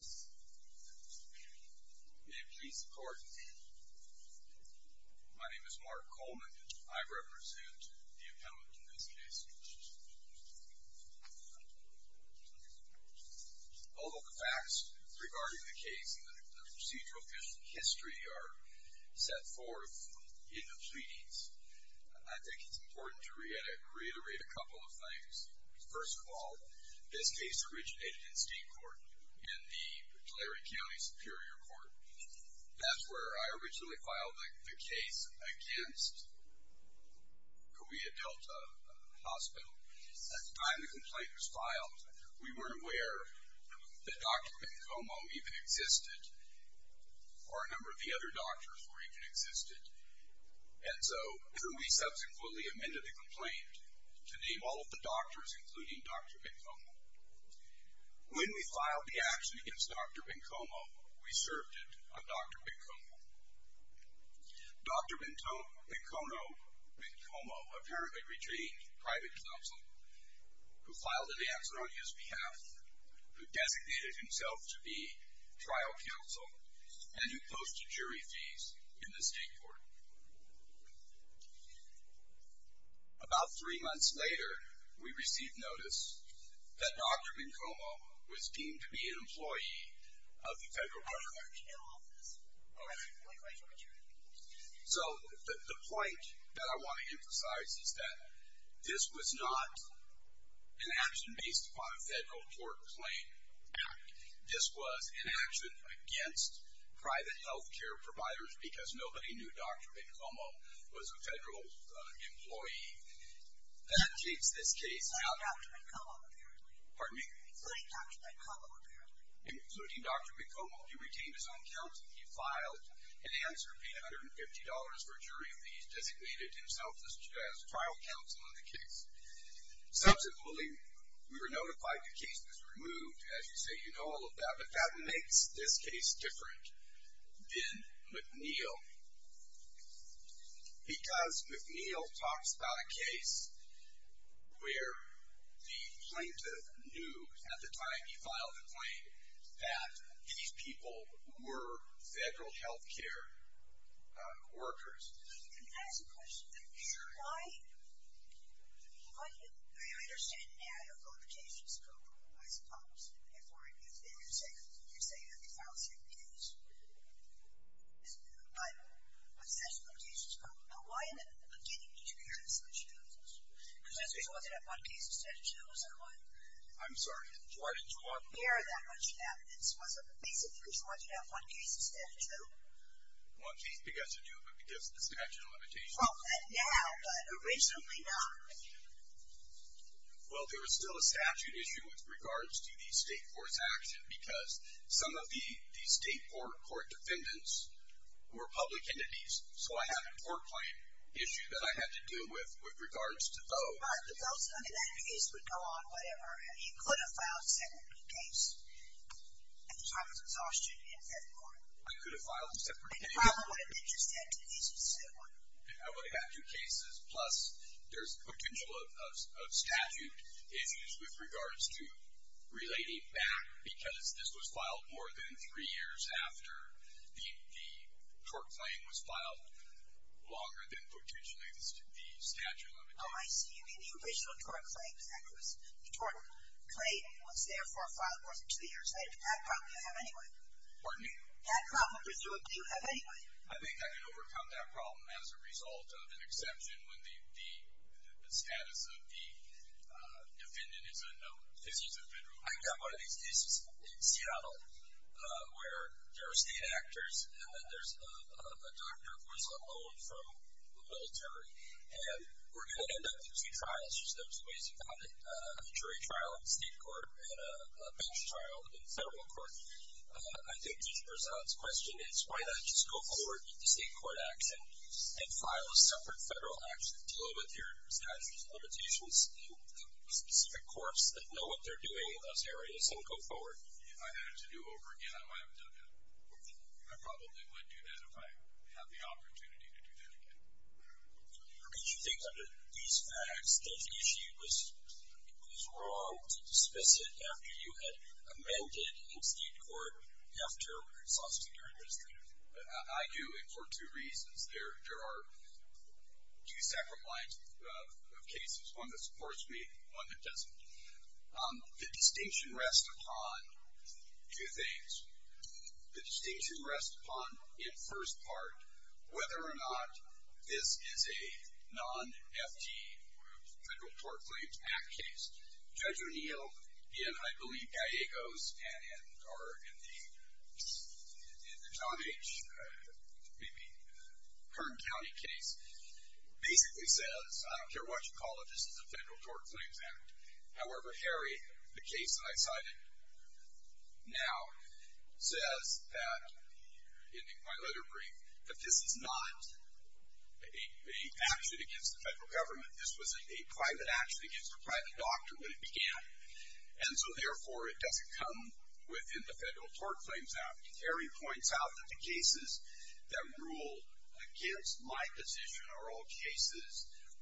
May it please the Court, my name is Mark Coleman, and I represent the appellant in this case. Although the facts regarding the case and the procedural history are set forth in the pleadings, I think it's important to reiterate a couple of things. First of all, this case originated in state court, in the Tulare County Superior Court. That's where I originally filed the case against Cahuilla Delta Hospital. At the time the complaint was filed, we weren't aware that Dr. Bencomo even existed, or a number of the other doctors were even existed. And so we subsequently amended the complaint to name all of the doctors, including Dr. Bencomo. When we filed the action against Dr. Bencomo, we served it on Dr. Bencomo. Dr. Bencomo apparently retained private counsel, who filed an answer on his behalf, who designated himself to be trial counsel, and who posted jury fees in the state court. About three months later, we received notice that Dr. Bencomo was deemed to be an employee of the Federal Court of Archives. So the point that I want to emphasize is that this was not an action based upon a federal court claim. This was an action against private health care providers because nobody knew Dr. Bencomo was a federal employee. That takes this case out. Including Dr. Bencomo apparently. Including Dr. Bencomo, he retained his own counsel. He filed an answer paying $150 for a jury fee. He designated himself as trial counsel in the case. Subsequently, we were notified the case was removed. As you say, you know all of that. But that makes this case different than McNeil. Because McNeil talks about a case where the plaintiff knew at the time he filed the claim, that these people were federal health care workers. Can I ask a question? Sure. Do you understand now your qualifications go otherwise opposite? You're saying that they filed the same case. But the statute of limitations is gone. Now why in the beginning did you hear the statute of limitations? Because this was wanted at one case instead of two, was that why? I'm sorry. Why didn't you want to hear that much evidence? Was it basically wanted at one case instead of two? Well, it has to do with the statute of limitations. Well, now, but originally not. Well, there was still a statute issue with regards to the state court's action because some of the state court defendants were public entities. So I have a court claim issue that I had to deal with with regards to those. But those under that case would go on whatever. You could have filed a separate case at the time of exhaustion in February. I could have filed a separate case. They probably would have been just that two cases. I would have had two cases, plus there's potential of statute issues with regards to relating back because this was filed more than three years after the tort claim was filed, longer than potentially the statute of limitations. Oh, I see. You mean the original tort claim. The tort claim was therefore filed more than two years later. That problem you have anyway. Pardon me? That problem you do have anyway. I think I can overcome that problem as a result of an exception when the status of the defendant is unknown. This is a federal case. I've got one of these cases in Seattle where there are state actors and then there's a doctor who is on loan from the military, and we're going to end up with two trials. There's no two ways about it, a jury trial in state court and a bench trial in federal court. I think the result's question is why not just go forward with the state court action and file a separate federal action to deal with your statute of limitations and specific courts that know what they're doing in those areas and go forward. If I had to do it over again, I might have done that. I probably would do that if I had the opportunity to do that again. Do you think under these facts that the issue was wrong to dismiss it after you had amended in state court, after suspecting your administrator? I do, and for two reasons. There are two separate lines of cases, one that supports me, one that doesn't. The distinction rests upon two things. The distinction rests upon, in first part, whether or not this is a non-FD, Federal Tort Claims Act case. Judge O'Neill, in, I believe, Gallegos or in the John H. maybe Kern County case, basically says, I don't care what you call it, this is a Federal Tort Claims Act. However, Harry, the case that I cited now, says that, in my letter brief, that this is not an action against the federal government. This was a private action against a private doctor when it began. And so, therefore, it doesn't come within the Federal Tort Claims Act. Harry points out that the cases that rule against my position are all cases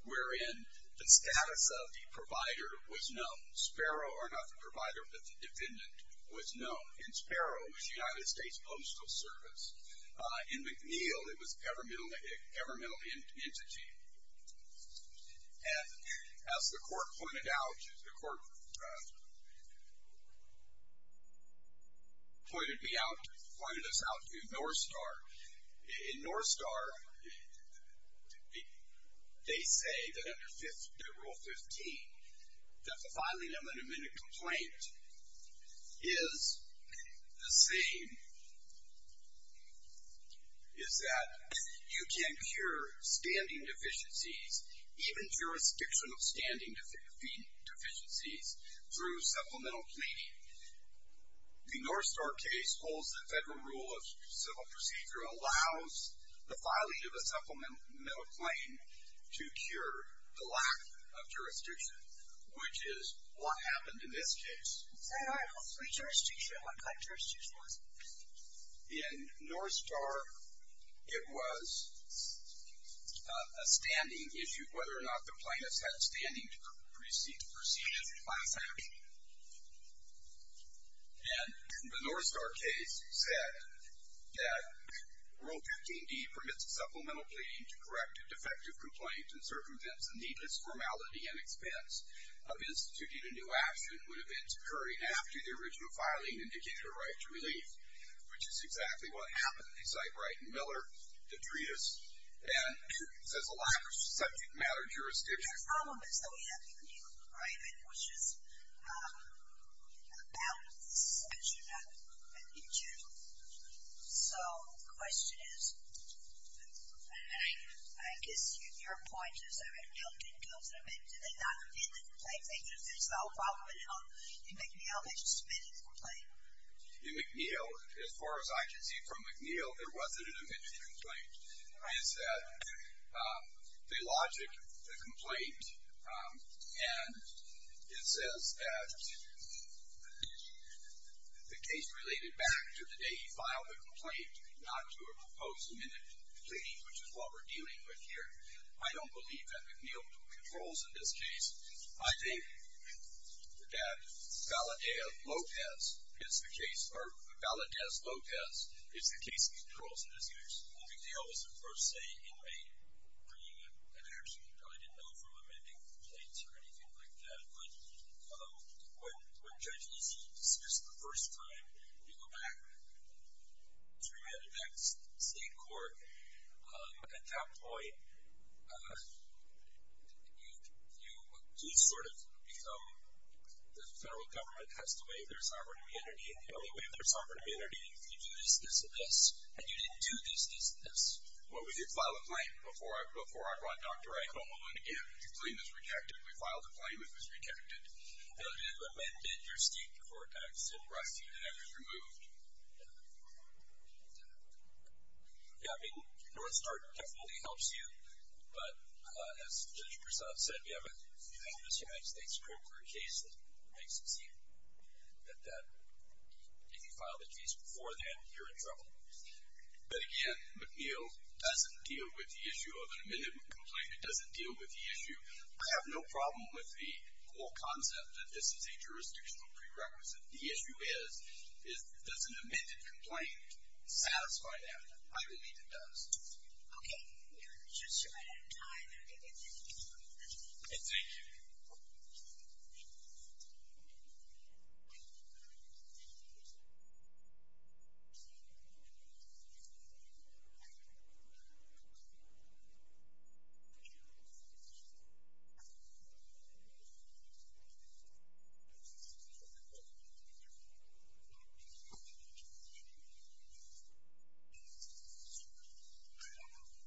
wherein the status of the provider was known. Sparrow, or not the provider, but the defendant, was known. In Sparrow, it was the United States Postal Service. In McNeil, it was governmental entity. And as the court pointed out, the court pointed me out, pointed us out to North Star. In North Star, they say that under Rule 15, that the filing of an amended complaint is the same, is that you can cure standing deficiencies, even jurisdiction of standing deficiencies, through supplemental claiming. The North Star case holds that Federal Rule of Civil Procedure allows the filing of a supplemental claim to cure the lack of jurisdiction, which is what happened in this case. Say, all right, well, jurisdiction, what kind of jurisdiction was it? In North Star, it was a standing issue, whether or not the plaintiffs had standing to proceed as a class action. And the North Star case said that Rule 15D permits supplemental claiming to correct a defective complaint and circumvents the needless formality and expense of instituting a new action when events occurring after the original filing indicate a right to relief, which is exactly what happened. They cite Wright and Miller, the treatise, and it says a lack of subject matter jurisdiction. The problem is that we have McNeil, right? It was just a balance section in general. So the question is, I guess your point is that McNeil didn't go through, maybe did they not amend the complaint? Maybe there's a little problem in McNeil, they just amended the complaint. In McNeil, as far as I can see from McNeil, there wasn't an amended complaint. The logic of the complaint, and it says that the case related back to the day he filed the complaint, not to a proposed amended claim, which is what we're dealing with here. I don't believe that McNeil controls in this case. I think that Valadez-Lopez is the case, McNeil was the first, say, inmate bringing an action. He probably didn't know if he was amending complaints or anything like that. But when judges dismiss for the first time, you go back three minutes back to state court. At that point, you sort of become the federal government has to waive their sovereign immunity, and the only way to waive their sovereign immunity is if you do this, this, and this. And you didn't do this, this, and this. Well, we did file a claim before I brought Dr. Iacono in. His claim was rejected. We filed a claim. It was rejected. They would have amended your state court action, but that was removed. Yeah, I mean, North Star definitely helps you, but as Judge Prasad said, we have a famous United States court court case that makes it seem that if you file the case before then, you're in trouble. But again, McNeil doesn't deal with the issue of an amended complaint. It doesn't deal with the issue. I have no problem with the whole concept that this is a jurisdictional prerequisite. The issue is, does an amended complaint satisfy that? I believe it does. Okay. We are just short of time. Thank you. Thank you.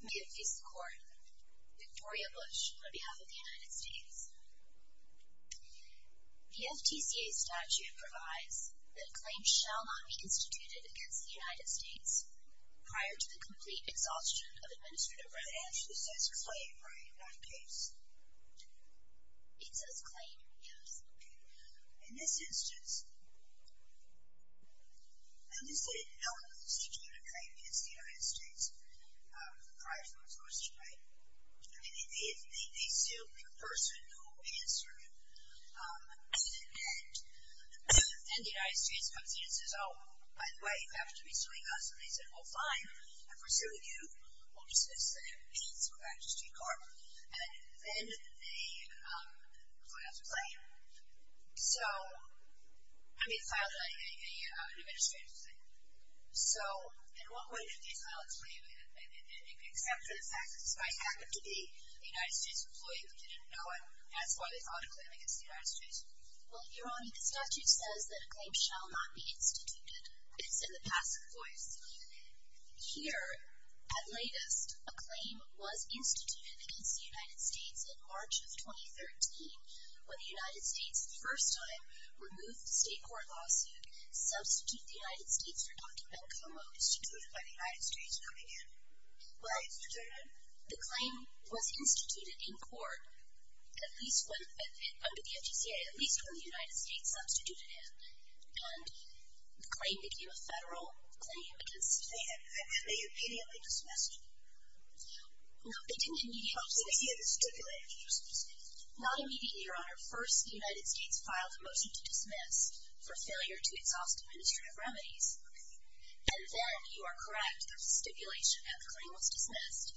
May it please the Court. Victoria Bush on behalf of the United States. The FTCA statute provides that a claim shall not be instituted against the United States prior to the complete exhaustion of administrative rights. It actually says claim, right, on the case? It says claim, yes. Okay. In this instance, in this instance, no one is instituting a claim against the United States prior to the complete exhaustion, right? I mean, they sue the person who answered it. And the United States comes in and says, oh, by the way, you have to be suing us. And they say, well, fine, I'm pursuing you. We'll dismiss the case. We're back to street court. And then they file the claim. So they filed an administrative claim. So in what way did they file a claim except for the fact that this might happen to be a United States employee who didn't know it, and that's why they filed a claim against the United States? Well, you're wrong. The statute says that a claim shall not be instituted. It's in the past. Here, at latest, a claim was instituted against the United States in March of 2013 when the United States the first time removed the state court lawsuit to substitute the United States for Dr. Bencomo, instituted by the United States coming in. Why was it instituted? The claim was instituted in court at least under the FGCA, at least when the United States substituted it. And the claim became a federal claim against the state. No, they didn't immediately dismiss it. Not immediately, Your Honor. First, the United States filed a motion to dismiss for failure to exhaust administrative remedies. And then, you are correct, there was a stipulation that the claim was dismissed.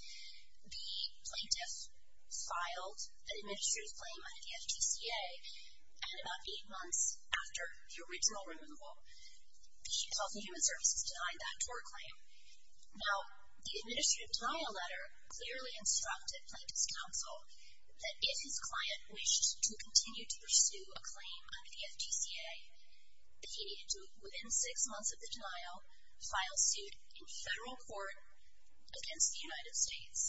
The plaintiff filed an administrative claim under the FGCA, and about eight months after the original removal, the Chief Health and Human Services denied that court claim. Now, the administrative denial letter clearly instructed Plaintiff's Counsel that if his client wished to continue to pursue a claim under the FGCA, that he needed to, within six months of the denial, file suit in federal court against the United States.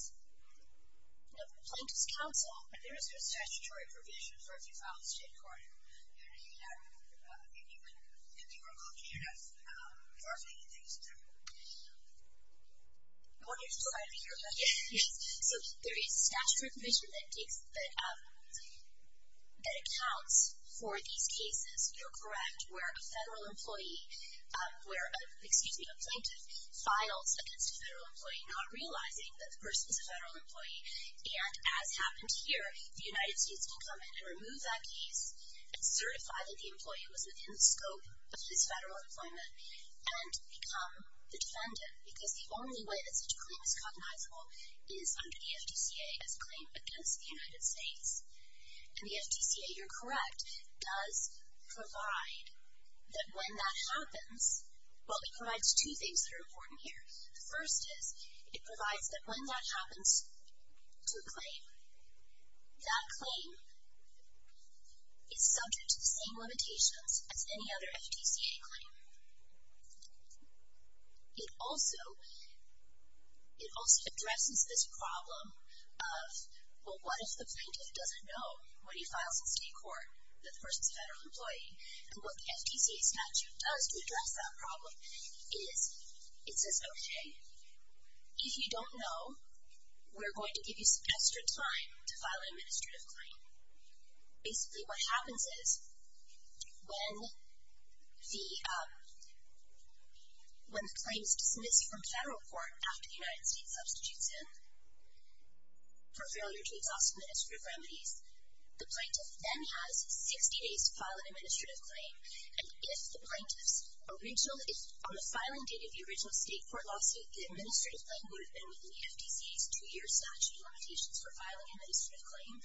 Now, Plaintiff's Counsel, there is no statutory provision for if you file a state court. Your Honor, you have, if you were looking at it, there are many things to look at. I want you to provide me your question. Yes. So, there is a statutory provision that takes, that accounts for these cases. You're correct, where a federal employee, where, excuse me, a plaintiff files against a federal employee, not realizing that the person is a federal employee. And as happened here, the United States can come in and remove that case and certify that the employee was within the scope of this federal employment and become the defendant, because the only way that such a claim is cognizable is under the FGCA as a claim against the United States. And the FGCA, you're correct, does provide that when that happens, well, it provides two things that are important here. The first is it provides that when that happens to a claim, that claim is subject to the same limitations as any other FGCA claim. It also addresses this problem of, well, what if the plaintiff doesn't know when he files in state court that the person is a federal employee? And what the FGCA statute does to address that problem is it says, okay, if you don't know, we're going to give you some extra time to file an administrative claim. Basically what happens is when the claim is dismissed from federal court after the United States substitutes him for failure to exhaust administrative remedies, the plaintiff then has 60 days to file an administrative claim. And if the plaintiff's original, on the filing date of the original state court lawsuit, the administrative claim would have been within the FGCA's two-year statute limitations for filing an administrative claim,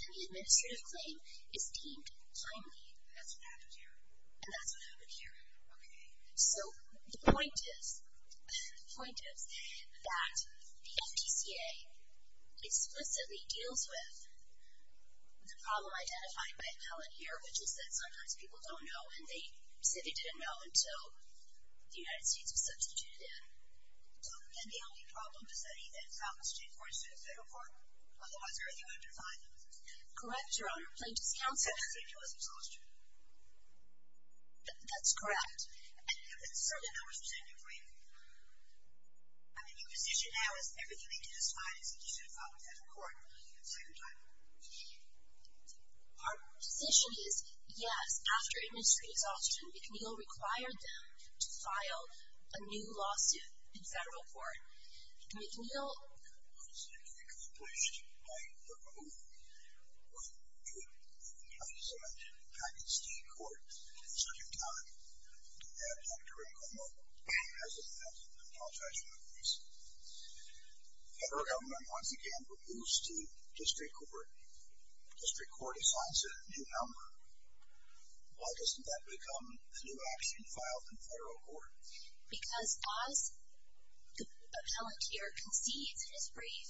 then the administrative claim is deemed timely. And that's what happened here. And that's what happened here. The problem identified by Helen here, which is that sometimes people don't know and they simply didn't know until the United States was substituted in. So, again, the only problem is that he then filed in state court instead of federal court? Otherwise, everything would have been fine. Correct, Your Honor. Plaintiff's counsel. So the statute was exhausted. That's correct. And certainly that was presented briefly. I mean, your position now is everything they did was fine, except he should have filed in federal court a second time. Our position is, yes, after administrative exhaustion, McNeil required them to file a new lawsuit in federal court. McNeil was accomplished by a group of people. A group of people, as you mentioned, passed in state court a second time. And Dr. Rincon has apologized for that reason. Federal government once again refused to district court. District court assigns it a new number. Why doesn't that become a new action filed in federal court? Because as the appellant here concedes in his brief,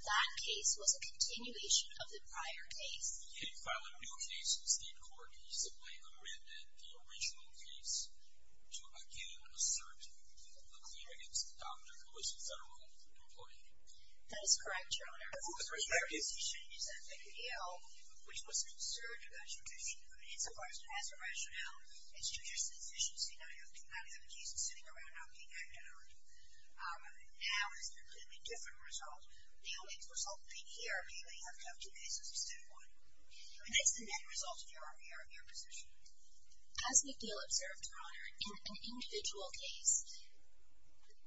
that case was a continuation of the prior case. He filed a new case in state court. He simply amended the original case to again assert a claim against the doctor who was a federal employee. That is correct, Your Honor. Of course, their position is that McNeil, which was concerned about tradition, insofar as it has a rationale, it's too just a position to say, now you have a case that's sitting around not being acted on. Now it's a completely different result. The only result being here, McNeil, you have to have two cases of state court. That's the net result of your position. As McNeil observed, Your Honor, in an individual case,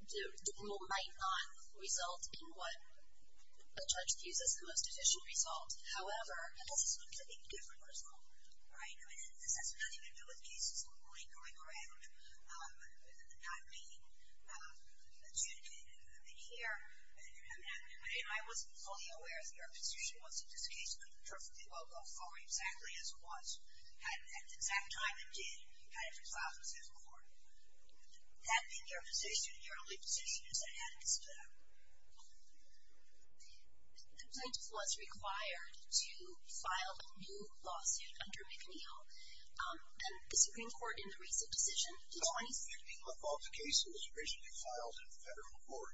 the rule might not result in what the judge views as the most efficient result. However, this is a completely different result. This has nothing to do with cases going around, not being attuned in here. I was fully aware of your position that once this case could perfectly well go forward exactly as it was, at the exact time it did, you kind of resolved it as a court. That being your position, your only position is that it had to be split up. The plaintiff was required to file a new lawsuit under McNeil. And the Supreme Court, in the recent decision, in 2016... The fault of the case was originally filed in federal court.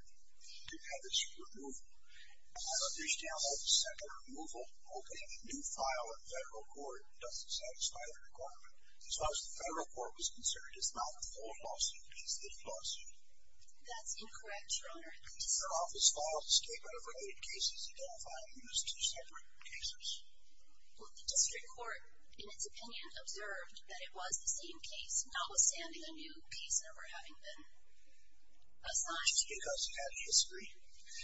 It had to be removed. I understand that separate removal, opening a new file in federal court, doesn't satisfy the requirement. As far as the federal court was concerned, it's not a full lawsuit. It's a split lawsuit. That's incorrect, Your Honor. Your office filed a statement over eight cases identifying these two separate cases. Well, the district court, in its opinion, observed that it was the same case, notwithstanding a new case number having been assigned. Because it had history.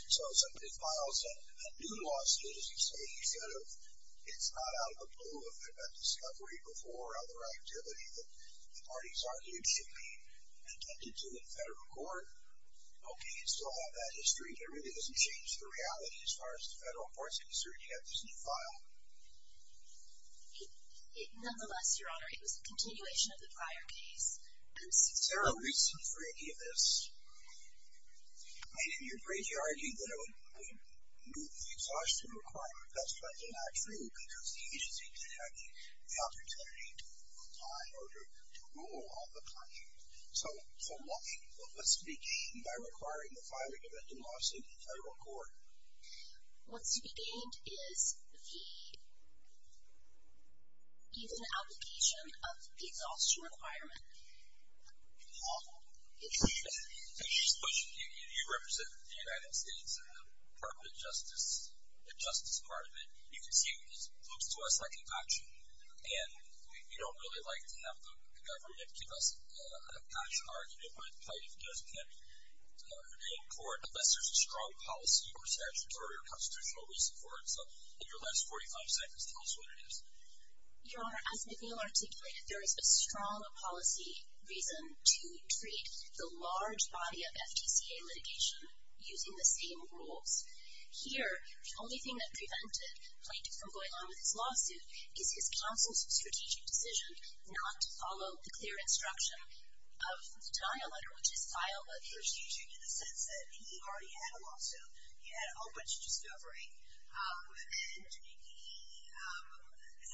So if somebody files a new lawsuit, as you say, instead of it's not out of the blue, if there had been discovery before or other activity that the parties argued should be attended to in federal court, okay, you still have that history. But it really doesn't change the reality as far as the federal court is concerned. You have this new file. Nonetheless, Your Honor, it was a continuation of the prior case. Is there a reason for any of this? I didn't hear Brady argue that it would move the exhaustion requirement. That's not true because the agency didn't have the opportunity to rule on it or to rule on the claim. So what's to be gained by requiring the filing of a new lawsuit in federal court? What's to be gained is the application of the exhaustion requirement. Paul. Just a question. You represent the United States in the Department of Justice, the Justice Department. You can see this looks to us like an action, and we don't really like to have the government give us an action argument when the plaintiff doesn't have a hearing in court, unless there's a strong policy or statutory or constitutional reason for it. So in your last 45 seconds, tell us what it is. Your Honor, as McNeil articulated, there is a strong policy reason to treat the large body of FTCA litigation using the same rules. Here, the only thing that prevented the plaintiff from going on with his lawsuit is his counsel's strategic decision not to follow the clear instruction of the denial letter, which is filed by the agency. Strategic in the sense that he already had a lawsuit. He had a whole bunch of discovery.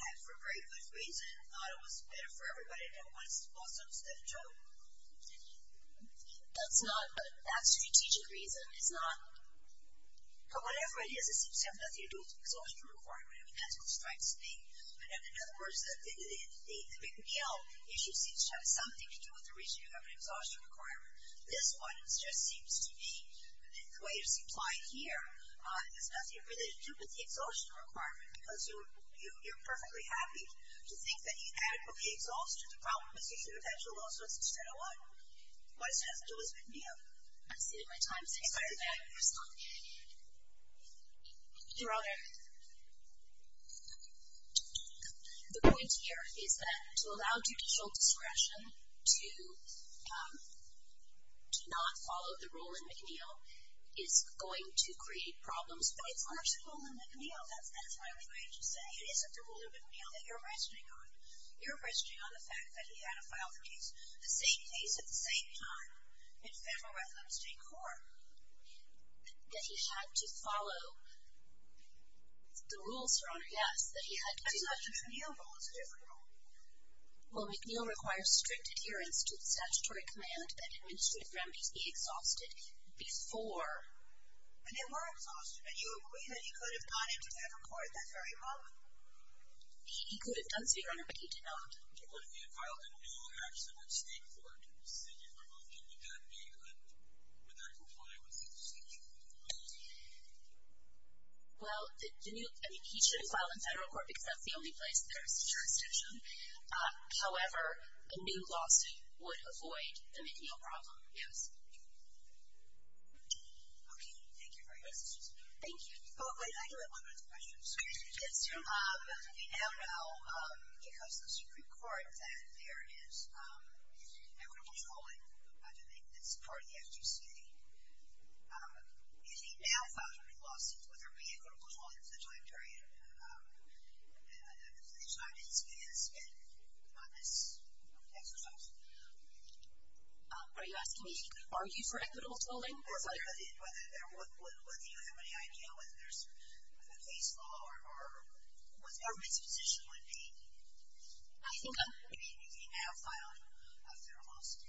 And he had, for a very good reason, thought it was better for everybody and don't want to support some stiff joke. That's not a strategic reason. It's not. But whatever it is, it seems to have nothing to do with the exhaustion requirement. I mean, that's what strikes me. In other words, the McNeil issue seems to have something to do with the reason you have an exhaustion requirement. This one just seems to be the way it's implied here. It has nothing to do with the exhaustion requirement because you're perfectly happy to think that you adequately exhausted the problem because you should have had your lawsuits instead of what? What does it have to do with McNeil? I've said it many times. It's a bad person. Your Honor, the point here is that to allow judicial discretion to not follow the rule in McNeil is going to create problems. But it's not a rule in McNeil. That's my only point I should say. It isn't the rule in McNeil that you're questioning on. You're questioning on the fact that he had to file the case, the same case at the same time, in federal records, state court. That he had to follow the rules, Your Honor. Yes. That he had to. The McNeil rule is a different rule. Well, McNeil requires strict adherence to the statutory command that administrative remedies be exhausted before. And they were exhausted. And you agree that he could have gone into federal court at that very moment. He could have done so, Your Honor, but he did not. Well, if he had filed a new accident at state court, say you removed him, would that be a, would that comply with the statute? Well, he should have filed in federal court because that's the only place that there is a jurisdiction. However, a new lawsuit would avoid the McNeil problem. Yes. Okay. Thank you very much. Thank you. I do have one more question. Yes. We now know because of the Supreme Court that there is equitable trolling, I do think that's part of the FGCA. If he now files a new lawsuit, would there be equitable trolling for the time period? I'm just not getting a spin on this exercise. Are you asking me to argue for equitable trolling? Whether you have any idea whether there's a case law or what the government's position would be. I think you can have filed a federal lawsuit.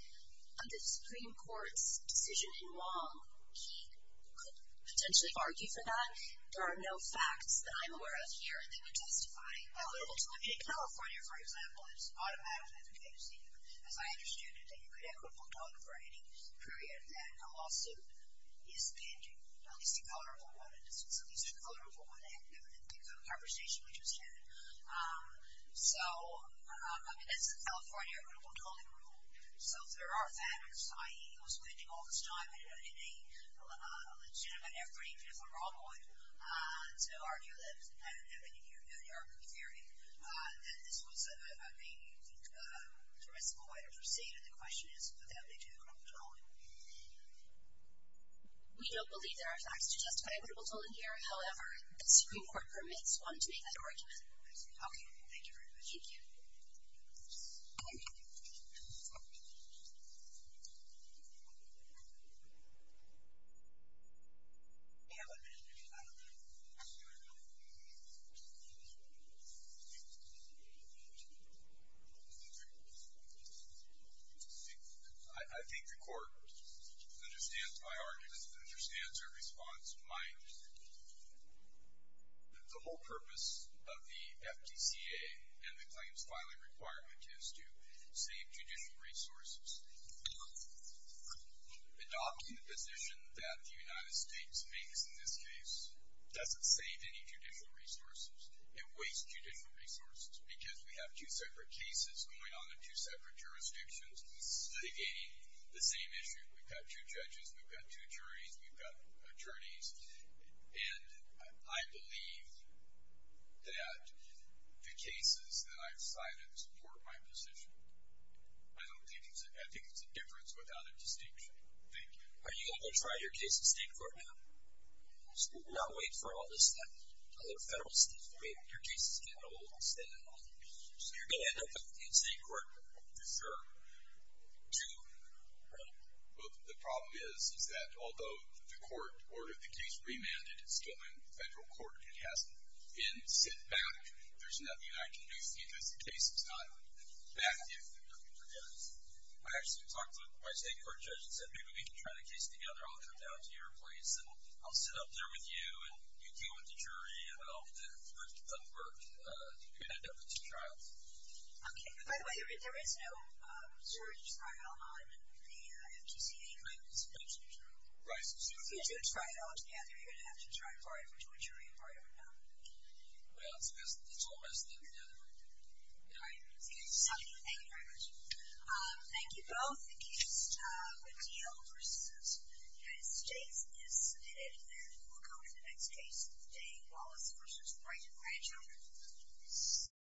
On the Supreme Court's decision in Wong, he could potentially argue for that. There are no facts that I'm aware of here that would testify to that. In California, for example, it's automatically FGCA procedure. As I understood it, that you could have equitable trolling for any period that a lawsuit is pending, at least a colorable one. So at least a colorable one, and the conversation we just had. So, I mean, that's a California equitable trolling rule. So if there are facts, i.e., he was pending all this time in a legitimate effort, even if a wrong one, to argue that, in your theory, that this was a reasonable way to proceed, the question is, would that lead to equitable trolling? We don't believe there are facts to testify to equitable trolling here. However, the Supreme Court permits one to make that argument. Okay. Thank you very much. Thank you. I think the court understands my argument, understands your response. The whole purpose of the FGCA and the claims filing requirement is to save judicial resources. Adopting the position that the United States makes in this case doesn't save any judicial resources. It wastes judicial resources, because we have two separate cases going on in two separate jurisdictions investigating the same issue. We've got two judges. We've got two juries. We've got attorneys. And I believe that the cases that I've cited support my position. I think it's a difference without a distinction. Thank you. Are you going to try your case in state court now? We're not waiting for all this other federal stuff. I mean, your case is getting a little bit standoffish. So you're going to end up in state court for sure, too, right? Well, the problem is, is that although the court ordered the case remanded, it's still in federal court. It hasn't been sent back. There's nothing I can do because the case is not back. I actually talked to my state court judge and said, maybe we can try the case together. I'll come down to your place, and I'll sit up there with you, and you deal with the jury, and all of that. It doesn't work. You're going to end up with two trials. Okay. By the way, there is no jury trial on the FTCA case. That's true. Right. If you do try it on together, you're going to have to try it for a jury trial now. Well, it's all messed up now. All right. Thank you very much. Thank you both. The case with Diehl v. United States is submitted, and we'll go to the next case, Jay Wallace v. Wright and Rancho.